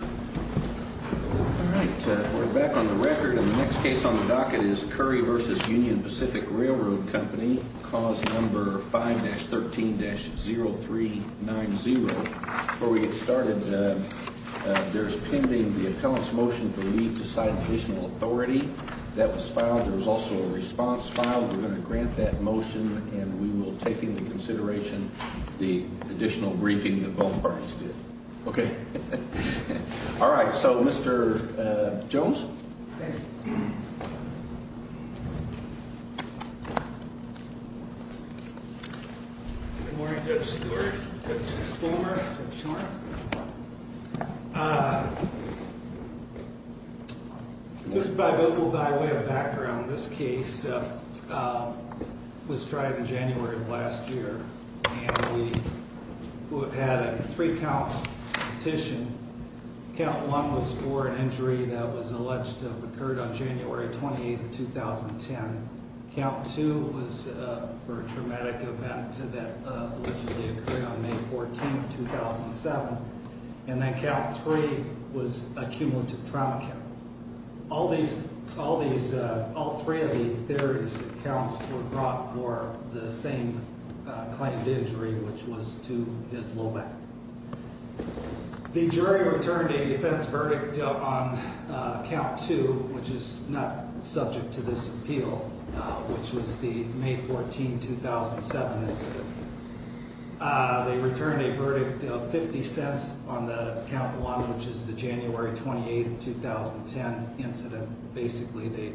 Alright, we're back on the record, and the next case on the docket is Currie v. Union Pacific Railroad Company, cause number 5-13-0390. Before we get started, there's pending the appellant's motion for leave to cite additional authority. That was filed. There was also a response filed. We're going to grant that motion, and we will take into consideration the additional briefing that both parties did. Okay. Alright, so Mr. Jones. Good morning, Judge Stewart. Judge Spillmer. Judge Schwartz. Just by way of background, this case was tried in January of last year, and we had a three-count petition. Count 1 was for an injury that was alleged to have occurred on January 28, 2010. Count 2 was for a traumatic event that allegedly occurred on May 14, 2007. And then Count 3 was a cumulative trauma count. All three of the counts were brought for the same claimed injury, which was to his low back. The jury returned a defense verdict on Count 2, which is not subject to this appeal, which was the May 14, 2007 incident. They returned a verdict of 50 cents on the Count 1, which is the January 28, 2010 incident. Basically,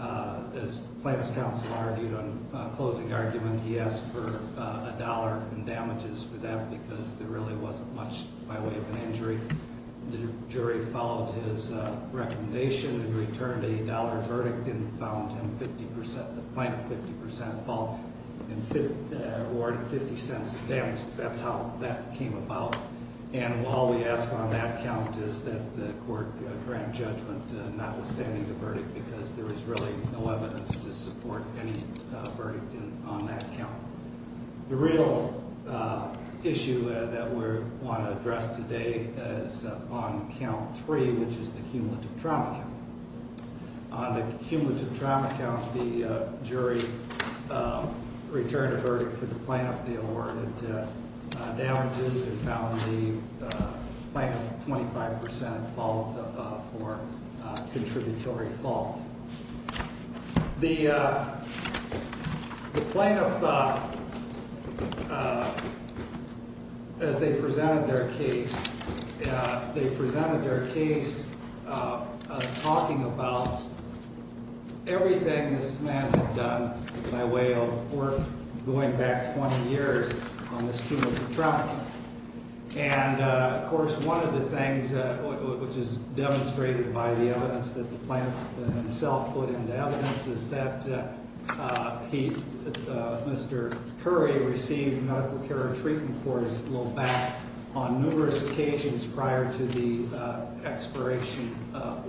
as Plaintiff's Counsel argued on closing argument, he asked for a dollar in damages for that, because there really wasn't much by way of an injury. The jury followed his recommendation and returned a dollar verdict and found him 50 percent, the Plaintiff 50 percent fault, and awarded 50 cents in damages. That's how that came about. And all we ask on that count is that the court grant judgment notwithstanding the verdict, because there is really no evidence to support any verdict on that count. The real issue that we want to address today is on Count 3, which is the cumulative trauma count. On the cumulative trauma count, the jury returned a verdict for the Plaintiff. They awarded damages and found the Plaintiff 25 percent fault for contributory fault. The Plaintiff, as they presented their case, they presented their case talking about everything this man had done by way of work going back 20 years on this cumulative trauma count. And, of course, one of the things which is demonstrated by the evidence that the Plaintiff himself put into evidence is that he, Mr. Curry, received medical care and treatment for his low back on numerous occasions prior to the expiration of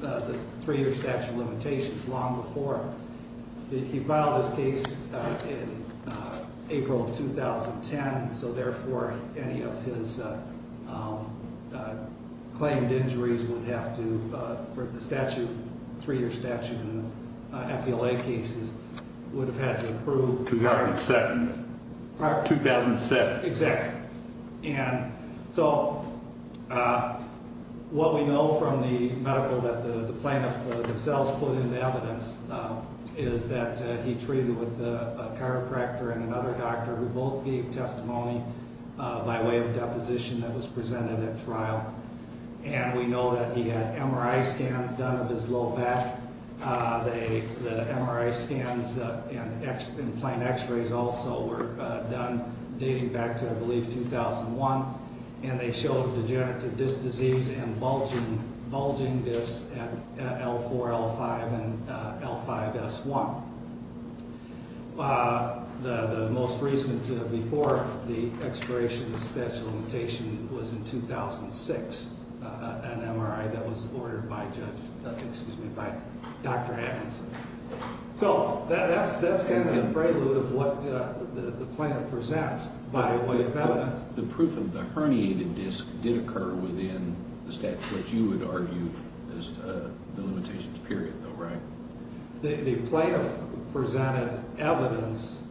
the three-year statute of limitations long before. He filed his case in April of 2010, so, therefore, any of his claimed injuries would have to, for the statute, three-year statute in the FELA cases, would have had to approve. 2007. 2007, exactly. And so what we know from the medical that the Plaintiff themselves put into evidence is that he treated with a chiropractor and another doctor who both gave testimony by way of deposition that was presented at trial. And we know that he had MRI scans done of his low back. The MRI scans and plant X-rays also were done dating back to, I believe, 2001, and they showed degenerative disc disease and bulging discs at L4, L5, and L5, S1. The most recent before the expiration of the statute of limitations was in 2006, an MRI that was ordered by Judge, excuse me, by Dr. Atkinson. So that's kind of the prelude of what the Plaintiff presents by way of evidence. The proof of the herniated disc did occur within the statute that you would argue is the limitations period, though, right? The Plaintiff presented evidence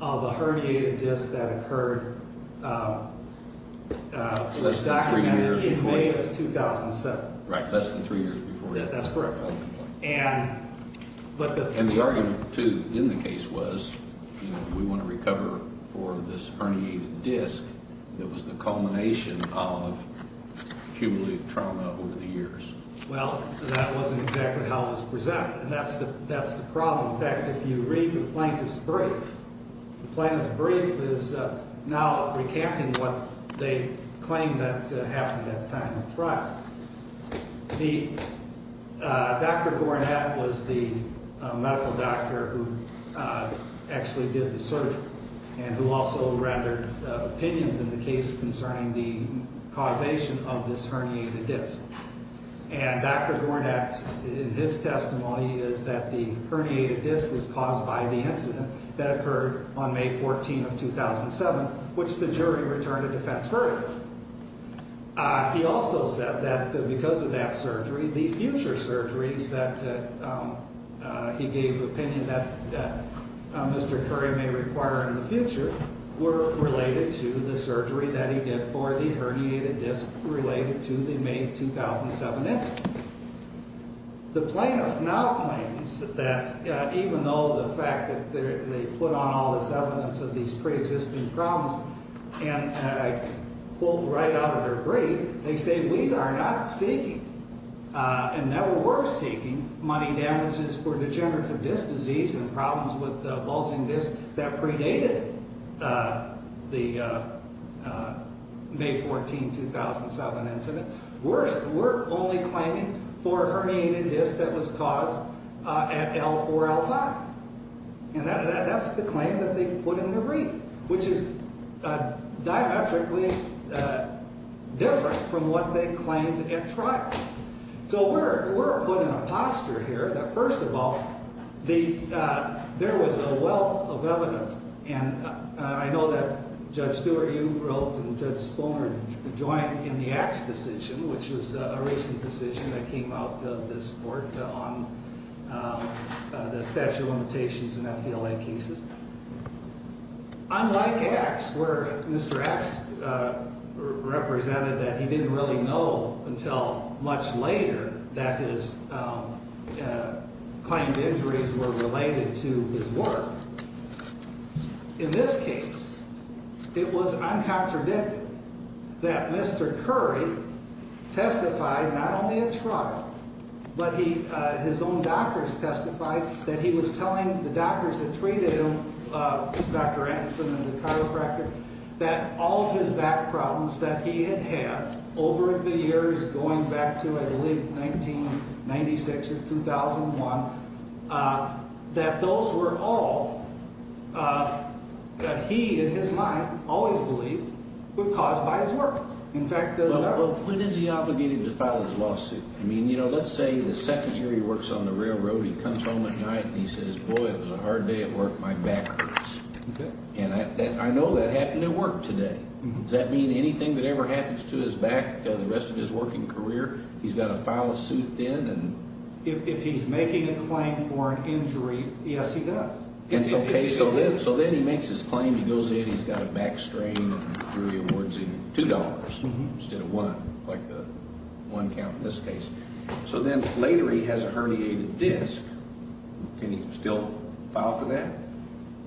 of a herniated disc that occurred. It was documented in May of 2007. Right, less than three years before that. That's correct. And the argument, too, in the case was we want to recover for this herniated disc that was the culmination of cumulative trauma over the years. Well, that wasn't exactly how it was presented, and that's the problem. In fact, if you read the Plaintiff's brief, the Plaintiff's brief is now recanting what they claimed that happened at the time of the trial. Dr. Gorenat was the medical doctor who actually did the surgery and who also rendered opinions in the case concerning the causation of this herniated disc. And Dr. Gorenat, in his testimony, is that the herniated disc was caused by the incident that occurred on May 14 of 2007, which the jury returned a defense verdict. He also said that because of that surgery, the future surgeries that he gave opinion that Mr. Curry may require in the future were related to the surgery that he did for the herniated disc related to the May 2007 incident. The Plaintiff now claims that even though the fact that they put on all this evidence of these preexisting problems and I quote right out of their brief, they say, we are not seeking and never were seeking money damages for degenerative disc disease and problems with bulging discs that predated the May 14, 2007 incident. We're only claiming for a herniated disc that was caused at L4, L5. And that's the claim that they put in their brief, which is diametrically different from what they claimed at trial. So we're put in a posture here that, first of all, there was a wealth of evidence. And I know that Judge Stewart, you wrote, and Judge Sponer joined in the Axe decision, which was a recent decision that came out of this court on the statute of limitations in FBLA cases. Unlike Axe, where Mr. Axe represented that he didn't really know until much later that his claimed injuries were related to his work. In this case, it was uncontradicted that Mr. Curry testified not only at trial, but his own doctors testified that he was telling the doctors that treated him, Dr. Atkinson and the chiropractor, that all of his back problems that he had had over the years going back to, I believe, 1996 or 2001, that those were all that he, in his mind, always believed were caused by his work. In fact, they're not. But when is he obligated to file his lawsuit? I mean, let's say the second year he works on the railroad, he comes home at night and he says, boy, it was a hard day at work, my back hurts. And I know that happened at work today. Does that mean anything that ever happens to his back the rest of his working career, he's got to file a suit then? If he's making a claim for an injury, yes, he does. Okay, so then he makes his claim, he goes in, he's got a back strain, and Drury awards him $2 instead of $1, like the one count in this case. So then later he has a herniated disc. Can he still file for that?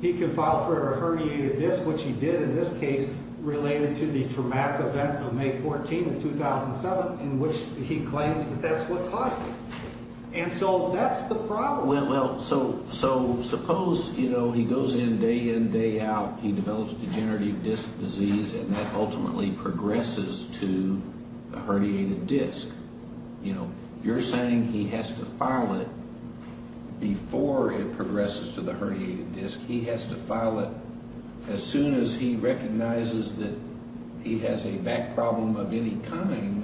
He can file for a herniated disc, which he did in this case related to the traumatic event of May 14 of 2007, in which he claims that that's what caused it. And so that's the problem. Well, so suppose, you know, he goes in day in, day out, he develops degenerative disc disease, and that ultimately progresses to a herniated disc. You know, you're saying he has to file it before it progresses to the herniated disc. He has to file it as soon as he recognizes that he has a back problem of any kind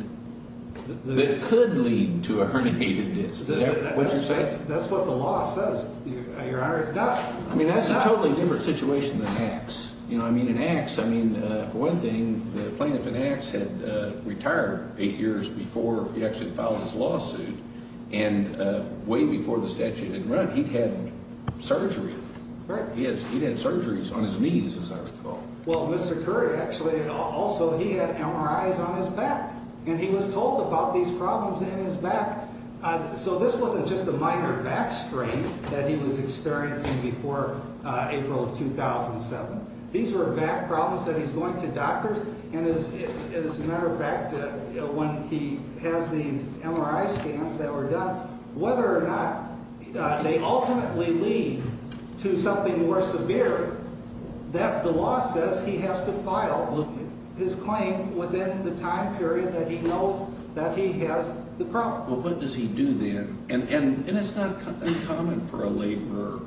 that could lead to a herniated disc. Is that what you're saying? That's what the law says, Your Honor. I mean, that's a totally different situation than Axe. You know, I mean, in Axe, I mean, for one thing, the plaintiff in Axe had retired eight years before he actually filed his lawsuit, and way before the statute had run, he'd had surgery. He'd had surgeries on his knees, as I recall. Well, Mr. Curry, actually, also he had MRIs on his back, and he was told about these problems in his back. So this wasn't just a minor back strain that he was experiencing before April of 2007. These were back problems that he's going to doctors, and as a matter of fact, when he has these MRI scans that were done, whether or not they ultimately lead to something more severe, that the law says he has to file his claim within the time period that he knows that he has the problem. Well, what does he do then? And it's not uncommon for a laborer,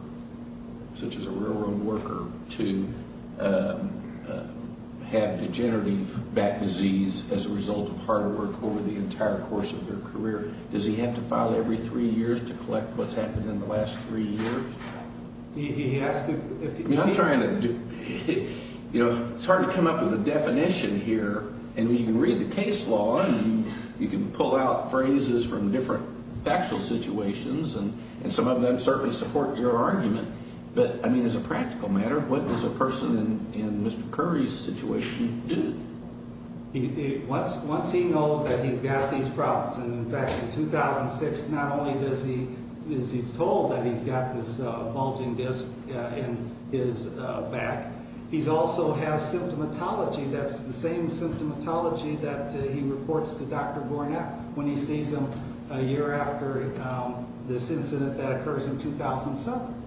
such as a railroad worker, to have degenerative back disease as a result of hard work over the entire course of their career. Does he have to file every three years to collect what's happened in the last three years? He has to. I'm trying to, you know, it's hard to come up with a definition here. And you can read the case law, and you can pull out phrases from different factual situations, and some of them certainly support your argument. But, I mean, as a practical matter, what does a person in Mr. Curry's situation do? Once he knows that he's got these problems, and, in fact, in 2006, not only is he told that he's got this bulging disc in his back, he also has symptomatology that's the same symptomatology that he reports to Dr. Gornak when he sees him a year after this incident that occurs in 2007.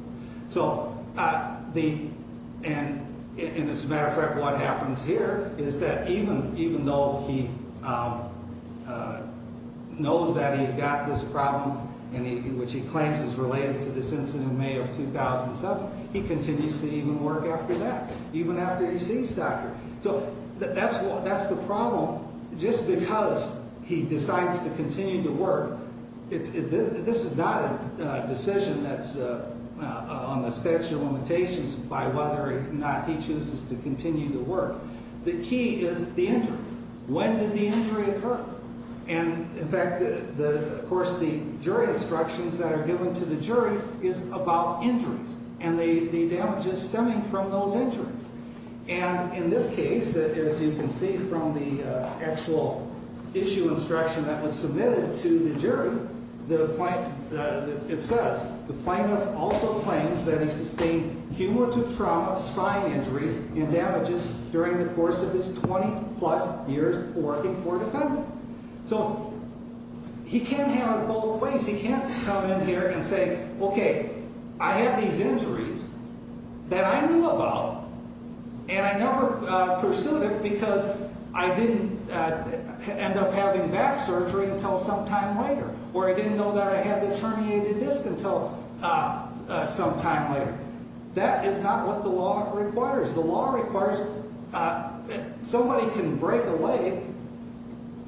So, and as a matter of fact, what happens here is that even though he knows that he's got this problem, which he claims is related to this incident in May of 2007, he continues to even work after that, even after he sees Dr. So that's the problem. Just because he decides to continue to work, this is not a decision that's on the statute of limitations by whether or not he chooses to continue to work. The key is the injury. When did the injury occur? And, in fact, of course, the jury instructions that are given to the jury is about injuries, and the damages stemming from those injuries. And in this case, as you can see from the actual issue instruction that was submitted to the jury, it says the plaintiff also claims that he sustained cumulative trauma, spine injuries, and damages during the course of his 20-plus years working for a defendant. So he can have it both ways. He can't come in here and say, okay, I had these injuries that I knew about, and I never pursued it because I didn't end up having back surgery until some time later, or I didn't know that I had this herniated disc until some time later. That is not what the law requires. The law requires that somebody can break a leg,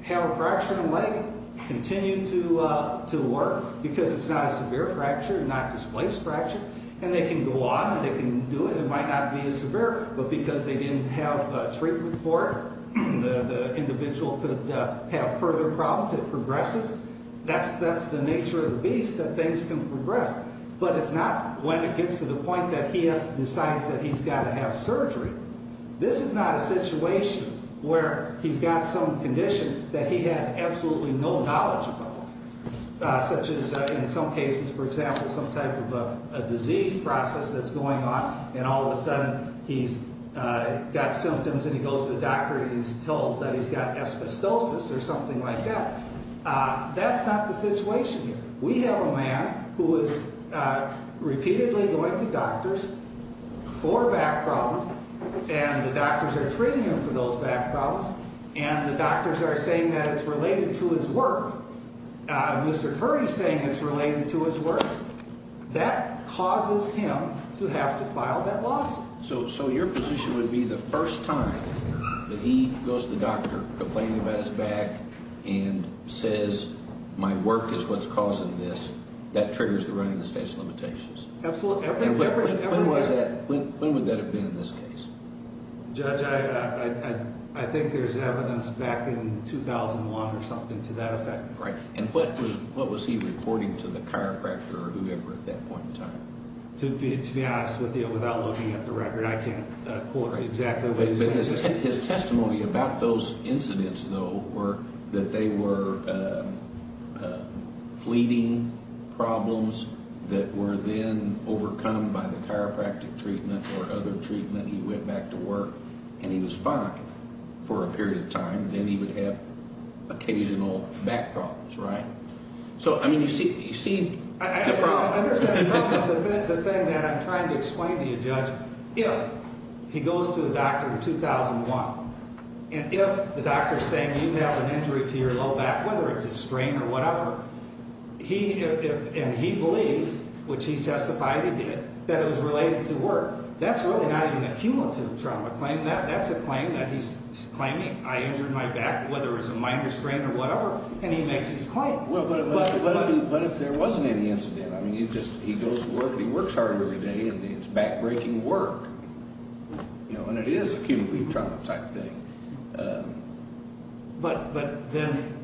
have a fracture in a leg, continue to work because it's not a severe fracture, not displaced fracture, and they can go on and they can do it. It might not be as severe, but because they didn't have treatment for it, the individual could have further problems. It progresses. That's the nature of the beast, that things can progress. But it's not when it gets to the point that he decides that he's got to have surgery. This is not a situation where he's got some condition that he had absolutely no knowledge about, such as in some cases, for example, some type of a disease process that's going on, and all of a sudden he's got symptoms and he goes to the doctor and he's told that he's got asbestosis or something like that. That's not the situation here. We have a man who is repeatedly going to doctors for back problems, and the doctors are treating him for those back problems, and the doctors are saying that it's related to his work. Mr. Curry is saying it's related to his work. That causes him to have to file that lawsuit. So your position would be the first time that he goes to the doctor, complaining about his back, and says my work is what's causing this, that triggers the run of the state's limitations. Absolutely. When would that have been in this case? Judge, I think there's evidence back in 2001 or something to that effect. Right. And what was he reporting to the chiropractor or whoever at that point in time? To be honest with you, without looking at the record, I can't quote exactly what he said. But his testimony about those incidents, though, were that they were fleeting problems that were then overcome by the chiropractic treatment or other treatment. He went back to work, and he was fine for a period of time. Then he would have occasional back problems, right? So, I mean, you see the problem. I understand the problem. The thing that I'm trying to explain to you, Judge, if he goes to a doctor in 2001, and if the doctor is saying, you have an injury to your low back, whether it's a strain or whatever, and he believes, which he testified he did, that it was related to work, that's really not even a cumulative trauma claim. That's a claim that he's claiming. I injured my back, whether it was a minor strain or whatever, and he makes his claim. But if there wasn't any incident, I mean, he goes to work, and he works hard every day, and it's back-breaking work. And it is a cumulative trauma type thing. But then,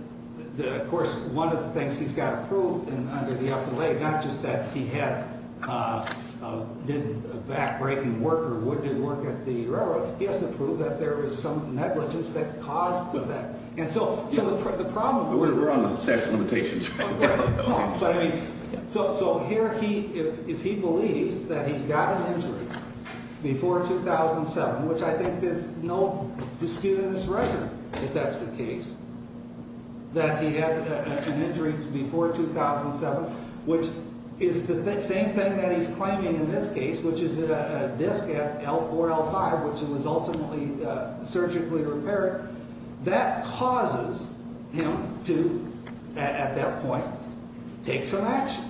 of course, one of the things he's got to prove under the FLA, not just that he did back-breaking work or didn't work at the railroad, he has to prove that there was some negligence that caused the back. And so the problem with that. We're on the session limitations right now. So here, if he believes that he's got an injury before 2007, which I think there's no dispute in this record if that's the case, that he had an injury before 2007, which is the same thing that he's claiming in this case, which is a disc at L4, L5, which was ultimately surgically repaired, that causes him to, at that point, take some action.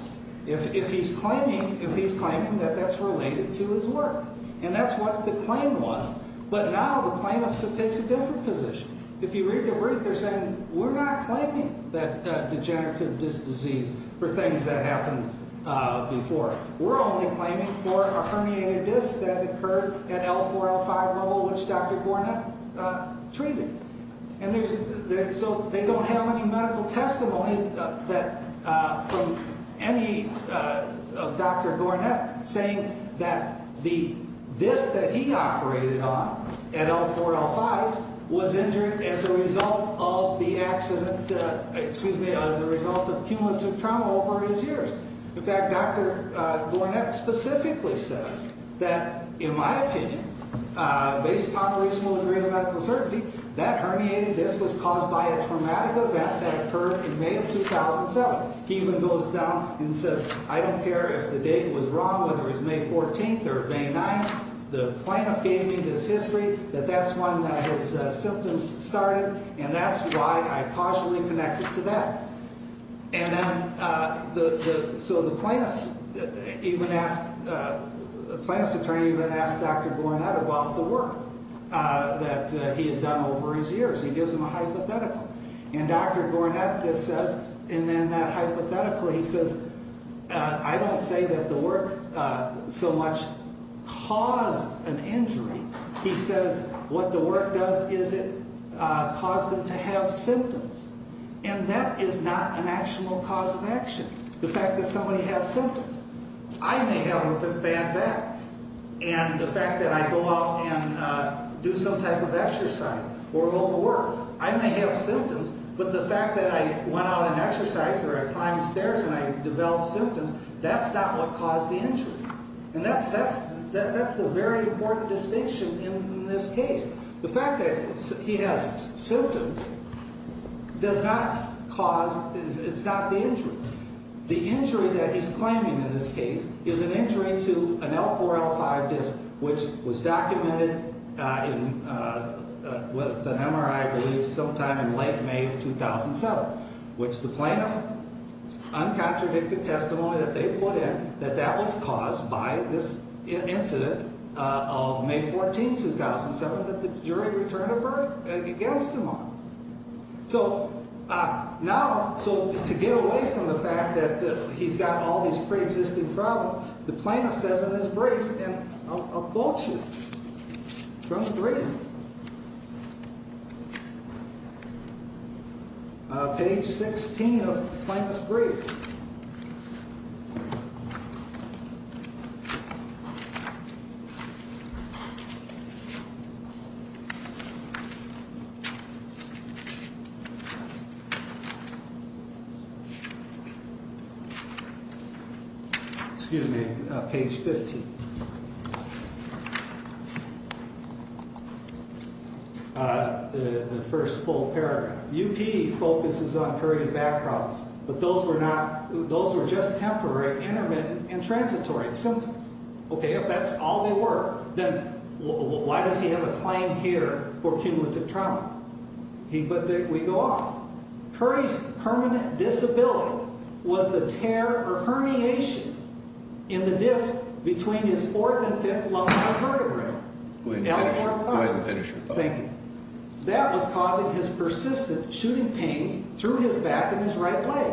If he's claiming that that's related to his work. And that's what the claim was. But now the plaintiff takes a different position. If you read the brief, they're saying, we're not claiming that degenerative disc disease for things that happened before. We're only claiming for a herniated disc that occurred at L4, L5 level, which Dr. Gornett treated. And so they don't have any medical testimony from any of Dr. Gornett saying that the disc that he operated on at L4, L5, was injured as a result of the accident, excuse me, as a result of cumulative trauma over his years. In fact, Dr. Gornett specifically says that, in my opinion, based upon reasonable degree of medical certainty, that herniated disc was caused by a traumatic event that occurred in May of 2007. He even goes down and says, I don't care if the date was wrong, whether it was May 14th or May 9th, the plaintiff gave me this history that that's when his symptoms started, and that's why I cautiously connected to that. And then so the plaintiff's attorney even asked Dr. Gornett about the work that he had done over his years. He gives him a hypothetical. And Dr. Gornett says, and then that hypothetical, he says, I don't say that the work so much caused an injury. He says what the work does is it caused him to have symptoms. And that is not an actual cause of action, the fact that somebody has symptoms. I may have a bad back, and the fact that I go out and do some type of exercise or go to work, I may have symptoms, but the fact that I went out and exercised or I climbed stairs and I developed symptoms, that's not what caused the injury. And that's a very important distinction in this case. The fact that he has symptoms does not cause, it's not the injury. The injury that he's claiming in this case is an injury to an L4-L5 disc, which was documented with an MRI, I believe, sometime in late May of 2007, which the plaintiff, uncontradicted testimony that they put in, that that was caused by this incident of May 14, 2007, that the jury returned a verdict against him on. So now, so to get away from the fact that he's got all these preexisting problems, the plaintiff says in his brief, and I'll quote you from his brief. Page 16 of the plaintiff's brief. Excuse me. Page 15. The first full paragraph. But those were not, those were just temporary, intermittent, and transitory symptoms. Okay, if that's all they were, then why does he have a claim here for cumulative trauma? But we go off. Curry's permanent disability was the tear or herniation in the disc between his fourth and fifth lumbar vertebrae, L4-L5. Go ahead and finish your thought. Thank you. That was causing his persistent shooting pains through his back and his right leg.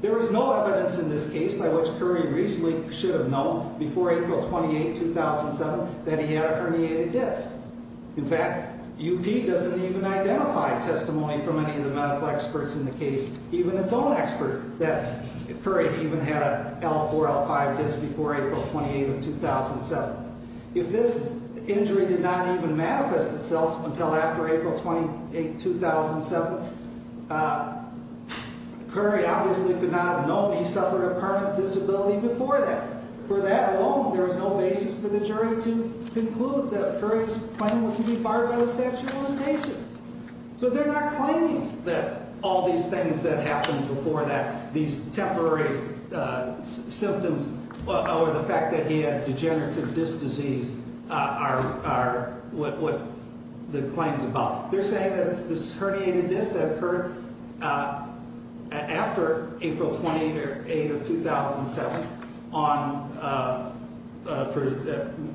There is no evidence in this case by which Curry reasonably should have known before April 28, 2007, that he had a herniated disc. In fact, UP doesn't even identify testimony from any of the medical experts in the case, even its own expert, that Curry even had a L4-L5 disc before April 28 of 2007. If this injury did not even manifest itself until after April 28, 2007, Curry obviously could not have known he suffered a permanent disability before that. For that alone, there is no basis for the jury to conclude that Curry's claim was to be fired by the statute of limitations. So they're not claiming that all these things that happened before that, these temporary symptoms or the fact that he had degenerative disc disease are what the claim is about. They're saying that it's this herniated disc that occurred after April 28 of 2007, on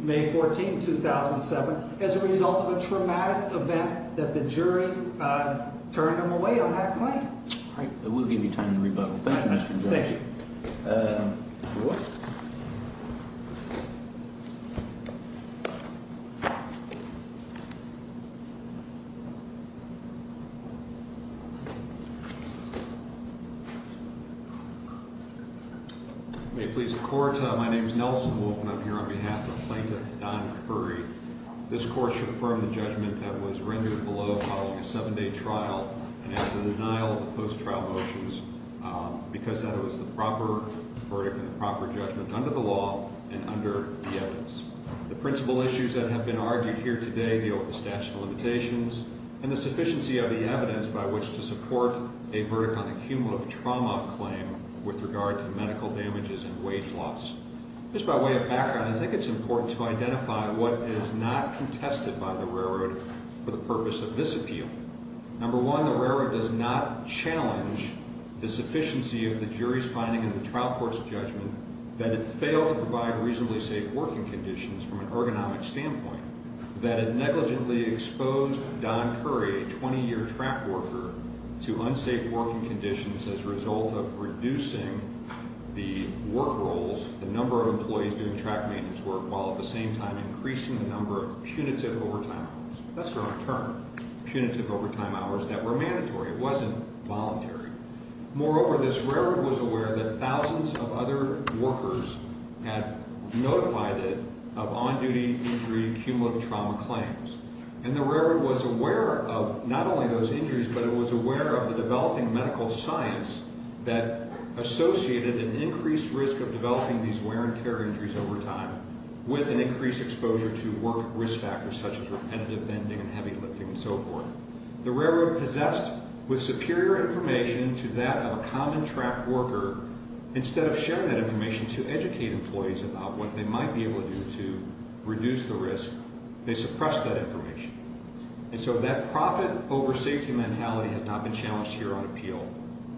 May 14, 2007, as a result of a traumatic event that the jury turned him away on that claim. All right. We'll give you time to rebuttal. Thank you, Mr. Judge. Thank you. Mr. Wolf? May it please the Court. My name is Nelson Wolf, and I'm here on behalf of Plaintiff Don Curry. This Court should affirm the judgment that was rendered below following a seven-day trial and after the denial of the post-trial motions because that was the proper verdict and the proper judgment under the law and under the evidence. The principal issues that have been argued here today deal with the statute of limitations and the sufficiency of the evidence by which to support a verdict on the cumulative trauma claim with regard to medical damages and wage loss. Just by way of background, I think it's important to identify what is not contested by the railroad for the purpose of this appeal. Number one, the railroad does not challenge the sufficiency of the jury's finding in the trial court's judgment that it failed to provide reasonably safe working conditions from an ergonomic standpoint, that it negligently exposed Don Curry, a 20-year track worker, to unsafe working conditions as a result of reducing the work roles, the number of employees doing track maintenance work, while at the same time increasing the number of punitive overtime hours. That's the wrong term. Punitive overtime hours that were mandatory. It wasn't voluntary. Moreover, this railroad was aware that thousands of other workers had notified it of on-duty injury cumulative trauma claims. And the railroad was aware of not only those injuries, but it was aware of the developing medical science that associated an increased risk of developing these wear and tear injuries over time with an increased exposure to work risk factors such as repetitive bending and heavy lifting and so forth. The railroad possessed, with superior information to that of a common track worker, instead of sharing that information to educate employees about what they might be able to do to reduce the risk, they suppressed that information. And so that profit-over-safety mentality has not been challenged here on appeal,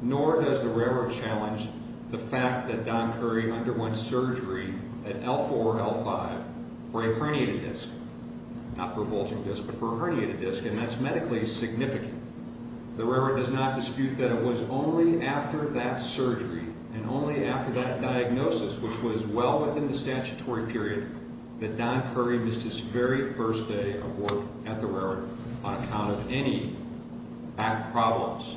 nor does the railroad challenge the fact that Don Curry underwent surgery at L4-L5 for a herniated disc. Not for a bulging disc, but for a herniated disc, and that's medically significant. The railroad does not dispute that it was only after that surgery and only after that diagnosis, which was well within the statutory period, that Don Curry missed his very first day of work at the railroad on account of any back problems.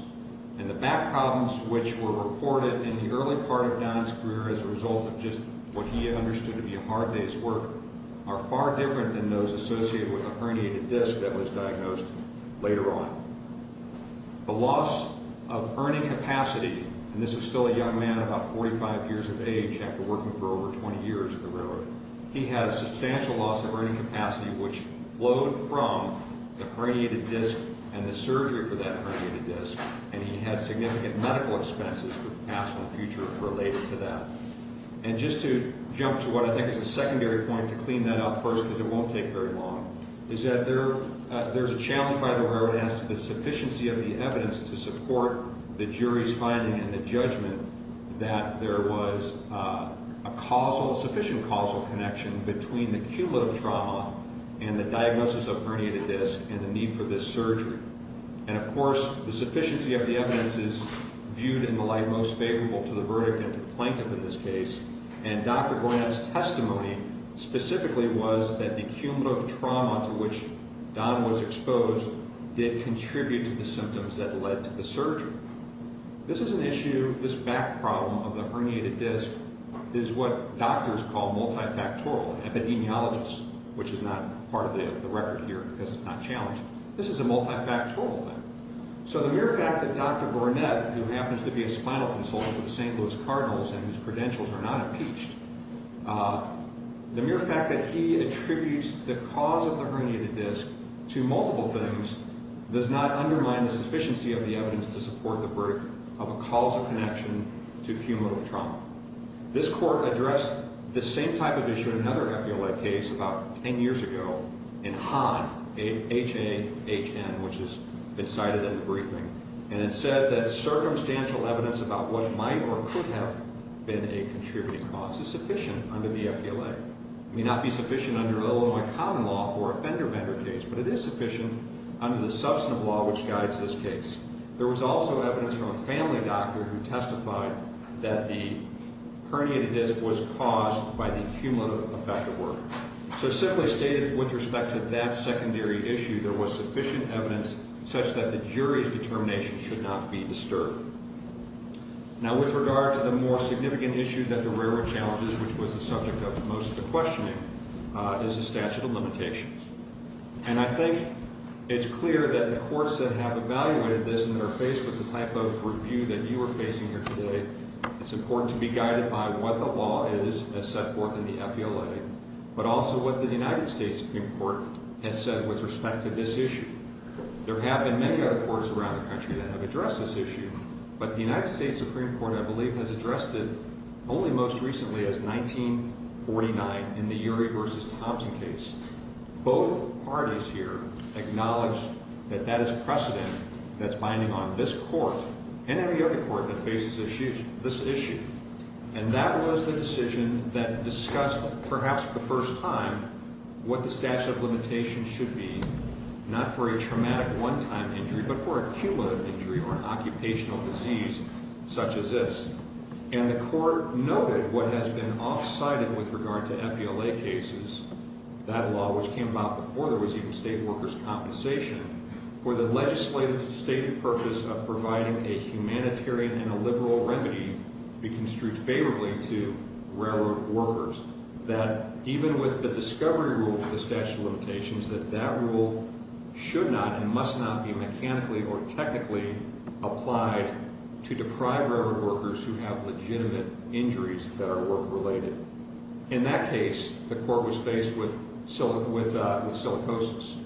And the back problems which were reported in the early part of Don's career as a result of just what he understood to be a hard day's work are far different than those associated with a herniated disc that was diagnosed later on. The loss of earning capacity, and this is still a young man about 45 years of age after working for over 20 years at the railroad, he had a substantial loss of earning capacity which flowed from the herniated disc and the surgery for that herniated disc, and he had significant medical expenses for the past and future related to that. And just to jump to what I think is a secondary point to clean that up first, because it won't take very long, is that there's a challenge by the railroad as to the sufficiency of the evidence to support the jury's finding and the judgment that there was a causal, sufficient causal connection between the cumulative trauma and the diagnosis of herniated disc and the need for this surgery. And, of course, the sufficiency of the evidence is viewed in the light most favorable to the verdict and to the plaintiff in this case, and Dr. Granat's testimony specifically was that the cumulative trauma to which Don was exposed did contribute to the symptoms that led to the surgery. This is an issue, this back problem of the herniated disc, is what doctors call multifactorial epidemiologists, which is not part of the record here because it's not challenged. This is a multifactorial thing. So the mere fact that Dr. Granat, who happens to be a spinal consultant for the St. Louis Cardinals and whose credentials are not impeached, the mere fact that he attributes the cause of the herniated disc to multiple things does not undermine the sufficiency of the evidence to support the verdict of a causal connection to cumulative trauma. This court addressed this same type of issue in another FBLA case about 10 years ago in Hahn, H-A-H-N, which has been cited in the briefing, and it said that circumstantial evidence about what might or could have been a contributing cause is sufficient under the FBLA. It may not be sufficient under Illinois common law for a fender-bender case, but it is sufficient under the substantive law which guides this case. There was also evidence from a family doctor who testified that the herniated disc was caused by the cumulative effect of work. So simply stated, with respect to that secondary issue, there was sufficient evidence such that the jury's determination should not be disturbed. Now, with regard to the more significant issue that the railroad challenges, which was the subject of most of the questioning, is the statute of limitations. And I think it's clear that the courts that have evaluated this and are faced with the type of review that you are facing here today, it's important to be guided by what the law is that's set forth in the FBLA, but also what the United States Supreme Court has said with respect to this issue. There have been many other courts around the country that have addressed this issue, but the United States Supreme Court, I believe, has addressed it only most recently as 1949 in the Urey v. Thompson case. Both parties here acknowledge that that is precedent that's binding on this court and every other court that faces this issue. And that was the decision that discussed, perhaps for the first time, what the statute of limitations should be, not for a traumatic one-time injury, but for a cumulative injury or an occupational disease such as this. And the court noted what has been off-cited with regard to FBLA cases, that law which came about before there was even state workers' compensation, for the legislative stated purpose of providing a humanitarian and a liberal remedy to be construed favorably to railroad workers, that even with the discovery rule for the statute of limitations, that that rule should not and must not be mechanically or technically applied to deprive railroad workers who have legitimate injuries that are work-related. In that case, the court was faced with silicosis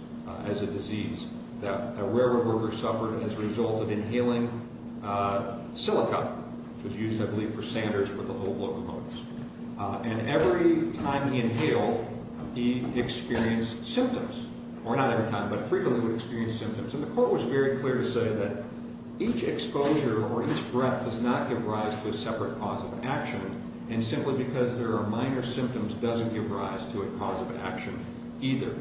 as a disease that railroad workers suffered as a result of inhaling silica, which was used, I believe, for sanders for the old locomotives. And every time he inhaled, he experienced symptoms, or not every time, but frequently would experience symptoms. And the court was very clear to say that each exposure or each breath does not give rise to a separate cause of action, and simply because there are minor symptoms doesn't give rise to a cause of action either.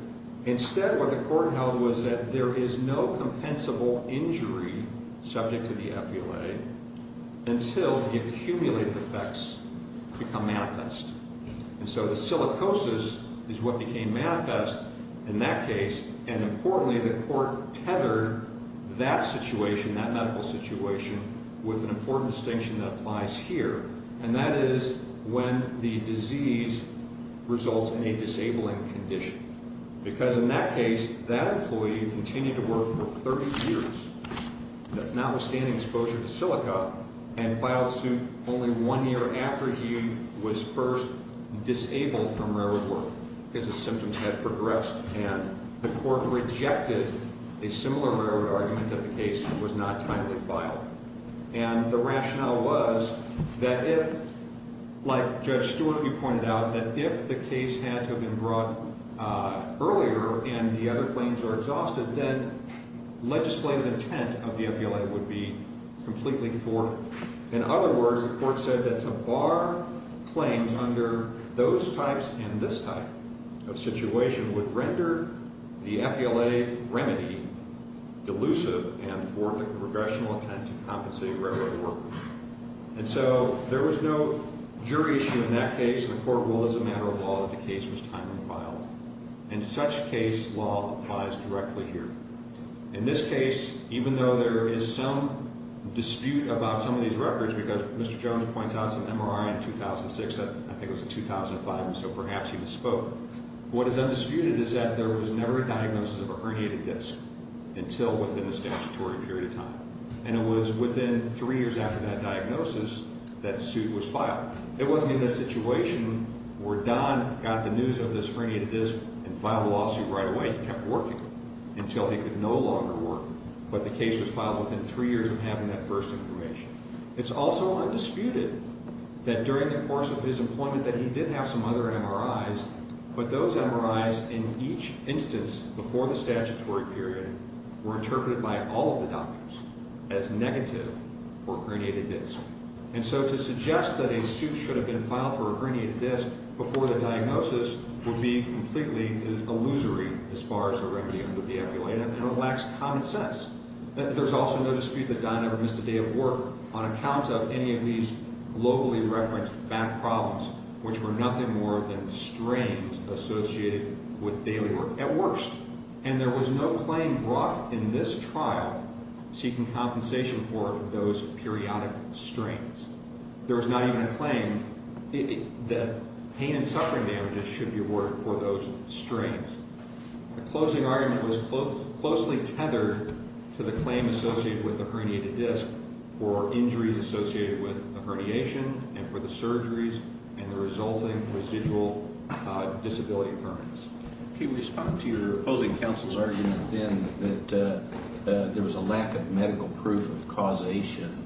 Instead, what the court held was that there is no compensable injury subject to the FBLA until the accumulated effects become manifest. And so the silicosis is what became manifest in that case, and importantly, the court tethered that situation, that medical situation, with an important distinction that applies here, and that is when the disease results in a disabling condition. Because in that case, that employee continued to work for 30 years, notwithstanding exposure to silica, and filed suit only one year after he was first disabled from railroad work because his symptoms had progressed. And the court rejected a similar railroad argument that the case was not timely filed. And the rationale was that if, like Judge Stewart, you pointed out, that if the case had to have been brought earlier and the other claims were exhausted, then legislative intent of the FBLA would be completely thwarted. In other words, the court said that to bar claims under those types and this type of situation would render the FBLA remedy delusive and thwart the progressional intent to compensate railroad workers. And so there was no jury issue in that case. The court ruled as a matter of law that the case was timely filed. In such a case, law applies directly here. In this case, even though there is some dispute about some of these records, because Mr. Jones points out some MRI in 2006, I think it was in 2005, and so perhaps he misspoke, what is undisputed is that there was never a diagnosis of a herniated disc until within a statutory period of time. And it was within three years after that diagnosis that suit was filed. It wasn't in this situation where Don got the news of this herniated disc and filed a lawsuit right away and kept working until he could no longer work, but the case was filed within three years of having that first information. It's also undisputed that during the course of his employment that he did have some other MRIs, but those MRIs in each instance before the statutory period were interpreted by all of the doctors as negative for a herniated disc. And so to suggest that a suit should have been filed for a herniated disc before the diagnosis would be completely illusory as far as the remedy under the FDA, and it lacks common sense. There's also no dispute that Don ever missed a day of work on account of any of these globally referenced back problems, which were nothing more than strains associated with daily work at worst. And there was no claim brought in this trial seeking compensation for those periodic strains. There was not even a claim that pain and suffering damages should be awarded for those strains. The closing argument was closely tethered to the claim associated with the herniated disc or injuries associated with the herniation and for the surgeries and the resulting residual disability occurrence. Can you respond to your opposing counsel's argument then that there was a lack of medical proof of causation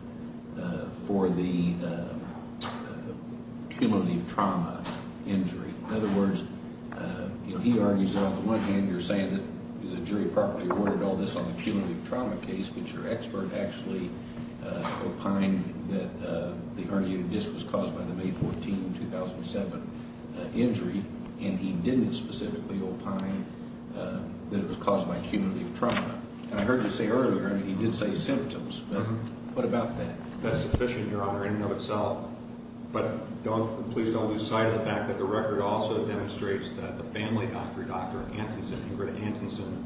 for the cumulative trauma injury? In other words, he argues that, on the one hand, you're saying that the jury properly awarded all this on the cumulative trauma case, but your expert actually opined that the herniated disc was caused by the May 14, 2007 injury, and he didn't specifically opine that it was caused by cumulative trauma. And I heard you say earlier, I mean, he did say symptoms. What about that? That's sufficient, Your Honor, in and of itself. But please don't lose sight of the fact that the record also demonstrates that the family doctor, Dr. Antonson, Ingrid Antonson,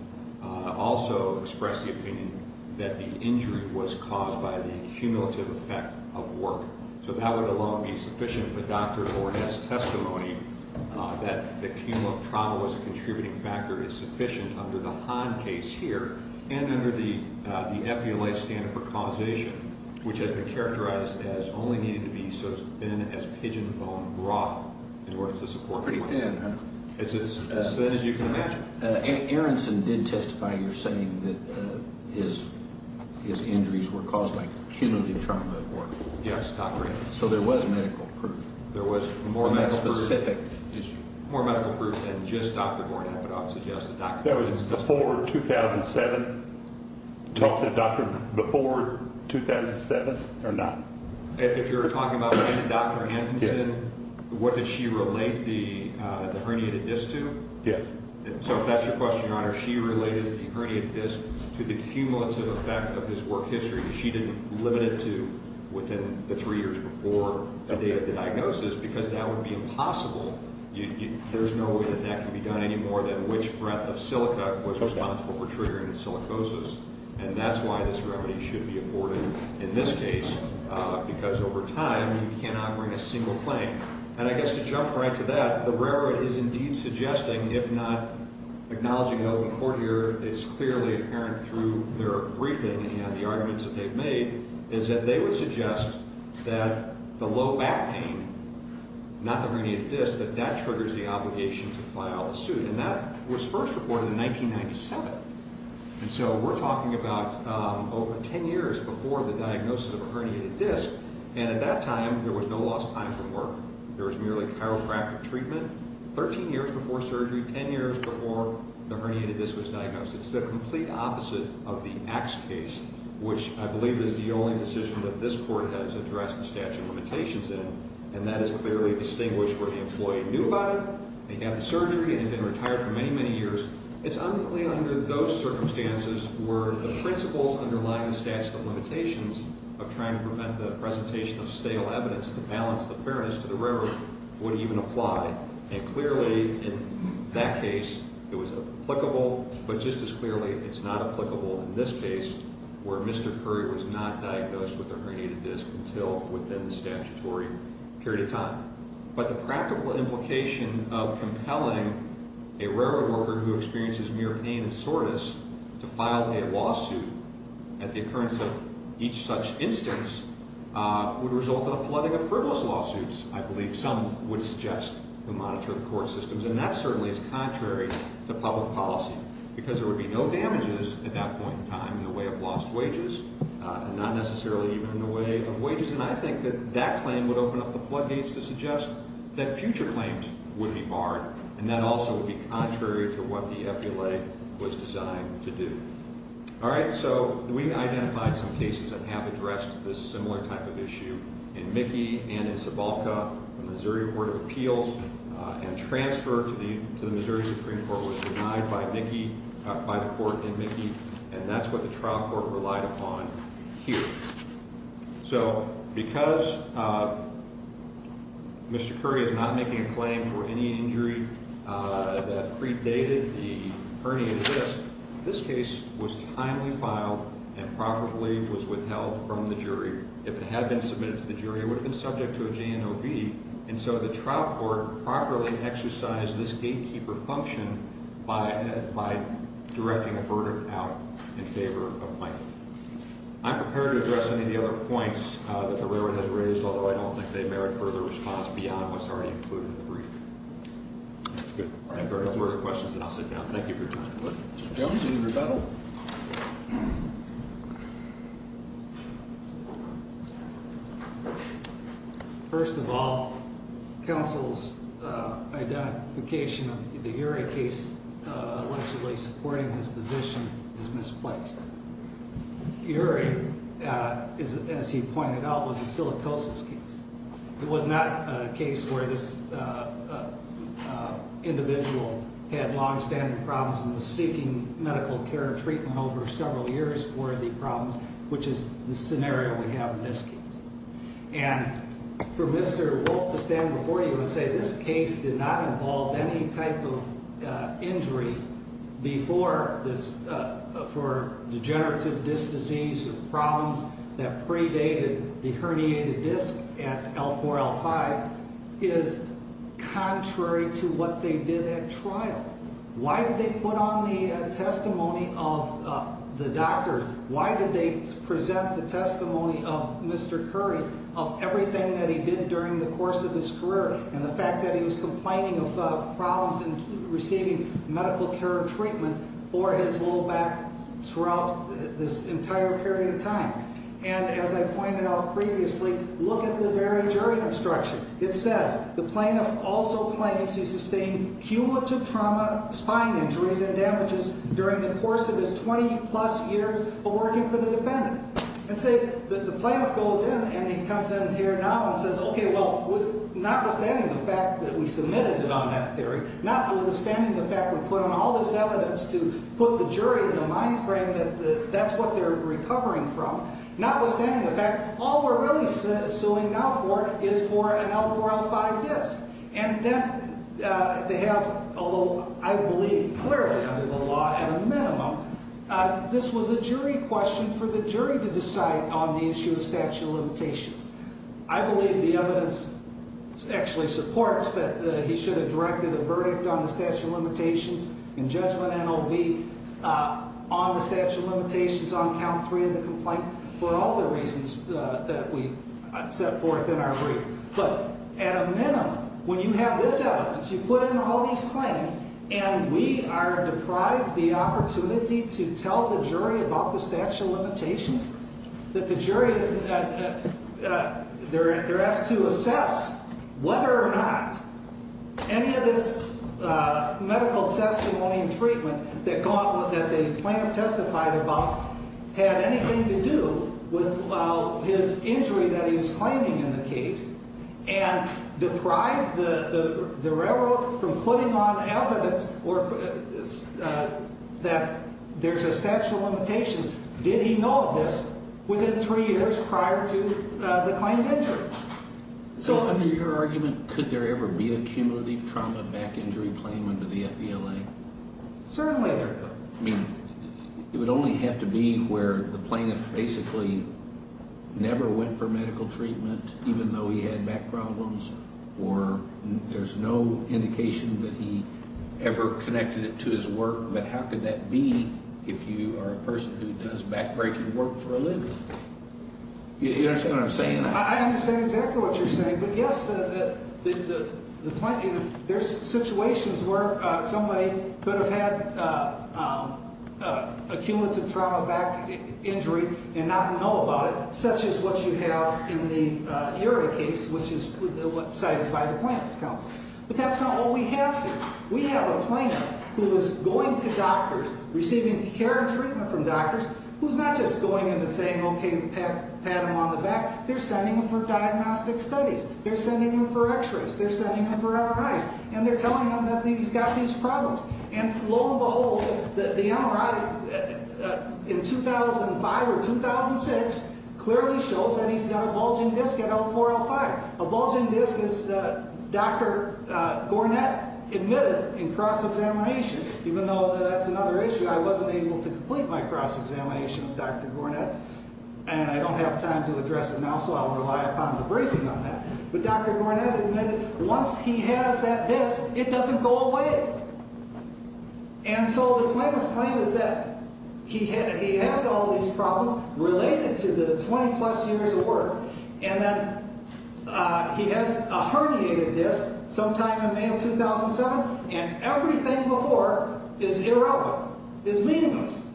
also expressed the opinion that the injury was caused by the cumulative effect of work. So that would alone be sufficient. But Dr. Ornette's testimony that the cumulative trauma was a contributing factor is sufficient under the Hahn case here and under the Epiolite standard for causation, which has been characterized as only needed to be as thin as pigeon bone broth in order to support the point. Pretty thin, huh? It's as thin as you can imagine. Aronson did testify, you're saying, that his injuries were caused by cumulative trauma of work. Yes, Dr. Antonson. So there was medical proof. There was more medical proof. On that specific issue. More medical proof than just Dr. Ornette, but I would suggest that Dr. Antonson testified. That was before 2007? Talked to the doctor before 2007 or not? If you're talking about Dr. Antonson, what did she relate the herniated disc to? Yes. So if that's your question, Your Honor, she related the herniated disc to the cumulative effect of his work history. She didn't limit it to within the three years before the day of the diagnosis because that would be impossible. There's no way that that could be done any more than which breath of silica was responsible for triggering the silicosis, and that's why this remedy should be afforded in this case because over time you cannot bring a single claim. And I guess to jump right to that, the railroad is indeed suggesting, if not acknowledging it, and what the court heard is clearly apparent through their briefing and the arguments that they've made, is that they would suggest that the low back pain, not the herniated disc, that that triggers the obligation to file a suit, and that was first reported in 1997. And so we're talking about 10 years before the diagnosis of a herniated disc, and at that time there was no lost time from work. There was merely chiropractic treatment. 13 years before surgery, 10 years before the herniated disc was diagnosed. It's the complete opposite of the X case, which I believe is the only decision that this court has addressed the statute of limitations in, and that is clearly distinguished where the employee knew about it, they had the surgery, and had been retired for many, many years. It's unclear under those circumstances where the principles underlying the statute of limitations of trying to prevent the presentation of stale evidence to balance the fairness to the railroad would even apply. And clearly in that case it was applicable, but just as clearly it's not applicable in this case, where Mr. Curry was not diagnosed with a herniated disc until within the statutory period of time. But the practical implication of compelling a railroad worker who experiences mere pain and soreness to file a lawsuit at the occurrence of each such instance would result in a flooding of frivolous lawsuits, I believe. Some would suggest to monitor the court systems, and that certainly is contrary to public policy, because there would be no damages at that point in time in the way of lost wages, and not necessarily even in the way of wages. And I think that that claim would open up the floodgates to suggest that future claims would be barred, and that also would be contrary to what the epilogue was designed to do. All right, so we've identified some cases that have addressed this similar type of issue in Mickey and in Sebalca. The Missouri Court of Appeals and transfer to the Missouri Supreme Court was denied by the court in Mickey, and that's what the trial court relied upon here. So because Mr. Curry is not making a claim for any injury that predated the herniated disc, this case was timely filed and properly was withheld from the jury. If it had been submitted to the jury, it would have been subject to a JNOV, and so the trial court properly exercised this gatekeeper function by directing a verdict out in favor of Michael. I'm prepared to address any of the other points that the railroad has raised, although I don't think they merit further response beyond what's already included in the brief. If there are no further questions, then I'll sit down. Thank you for your time. Mr. Jones, any rebuttal? First of all, counsel's identification of the Urey case allegedly supporting his position is misplaced. Urey, as he pointed out, was a silicosis case. It was not a case where this individual had longstanding problems and was seeking medical care and treatment over several years for the problems, which is the scenario we have in this case. And for Mr. Wolf to stand before you and say this case did not involve any type of injury for degenerative disc disease or problems that predated the herniated disc at L4-L5 is contrary to what they did at trial. Why did they put on the testimony of the doctors? Why did they present the testimony of Mr. Curry, of everything that he did during the course of his career, and the fact that he was complaining of problems in receiving medical care and treatment for his low back throughout this entire period of time? And as I pointed out previously, look at the very jury instruction. It says, the plaintiff also claims he sustained cumulative trauma, spine injuries, and damages during the course of his 20-plus years of working for the defendant. And say, the plaintiff goes in and he comes in here now and says, okay, well, notwithstanding the fact that we submitted it on that theory, notwithstanding the fact we put on all this evidence to put the jury in the mind frame that that's what they're recovering from, notwithstanding the fact all we're really suing now for is for an L4-L5 disc. And then they have, although I believe clearly under the law at a minimum, this was a jury question for the jury to decide on the issue of statute of limitations. I believe the evidence actually supports that he should have directed a verdict on the statute of limitations in judgment NOV on the statute of limitations on count three of the complaint for all the reasons that we set forth in our brief. But at a minimum, when you have this evidence, you put in all these claims, and we are deprived the opportunity to tell the jury about the statute of limitations, that the jury is, they're asked to assess whether or not any of this medical testimony and treatment that the plaintiff testified about had anything to do with his injury that he was claiming in the case and deprive the railroad from putting on evidence that there's a statute of limitations. Did he know of this within three years prior to the claim of injury? So under your argument, could there ever be a cumulative trauma back injury claim under the FELA? Certainly there could. I mean, it would only have to be where the plaintiff basically never went for medical treatment, even though he had back problems, or there's no indication that he ever connected it to his work. But how could that be if you are a person who does back-breaking work for a living? You understand what I'm saying? I understand exactly what you're saying. But, yes, the plaintiff, there's situations where somebody could have had a cumulative trauma back injury and not know about it, such as what you have in the URI case, which is what's cited by the plaintiff's counsel. But that's not all we have here. We have a plaintiff who is going to doctors, receiving care and treatment from doctors, who's not just going in and saying, okay, pat him on the back. They're sending him for diagnostic studies. They're sending him for x-rays. They're sending him for MRIs. And they're telling him that he's got these problems. And lo and behold, the MRI in 2005 or 2006 clearly shows that he's got a bulging disc at L4-L5. A bulging disc is Dr. Gornett admitted in cross-examination. Even though that's another issue, I wasn't able to complete my cross-examination with Dr. Gornett, and I don't have time to address it now, so I'll rely upon the briefing on that. But Dr. Gornett admitted once he has that disc, it doesn't go away. And so the plaintiff's claim is that he has all these problems related to the 20-plus years of work, and that he has a herniated disc sometime in May of 2007, and everything before is irrelevant, is meaningless.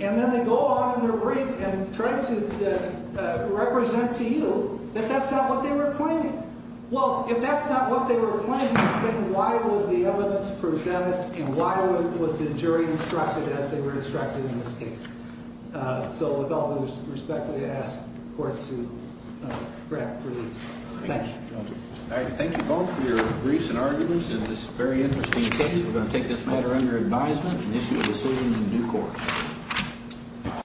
And then they go on in their brief and try to represent to you that that's not what they were claiming. Well, if that's not what they were claiming, then why was the evidence presented and why was the jury instructed as they were instructed in this case? So with all due respect, I ask the Court to grant relief. Thank you. Thank you both for your briefs and arguments in this very interesting case. We're going to take this matter under advisement and issue a decision in due course.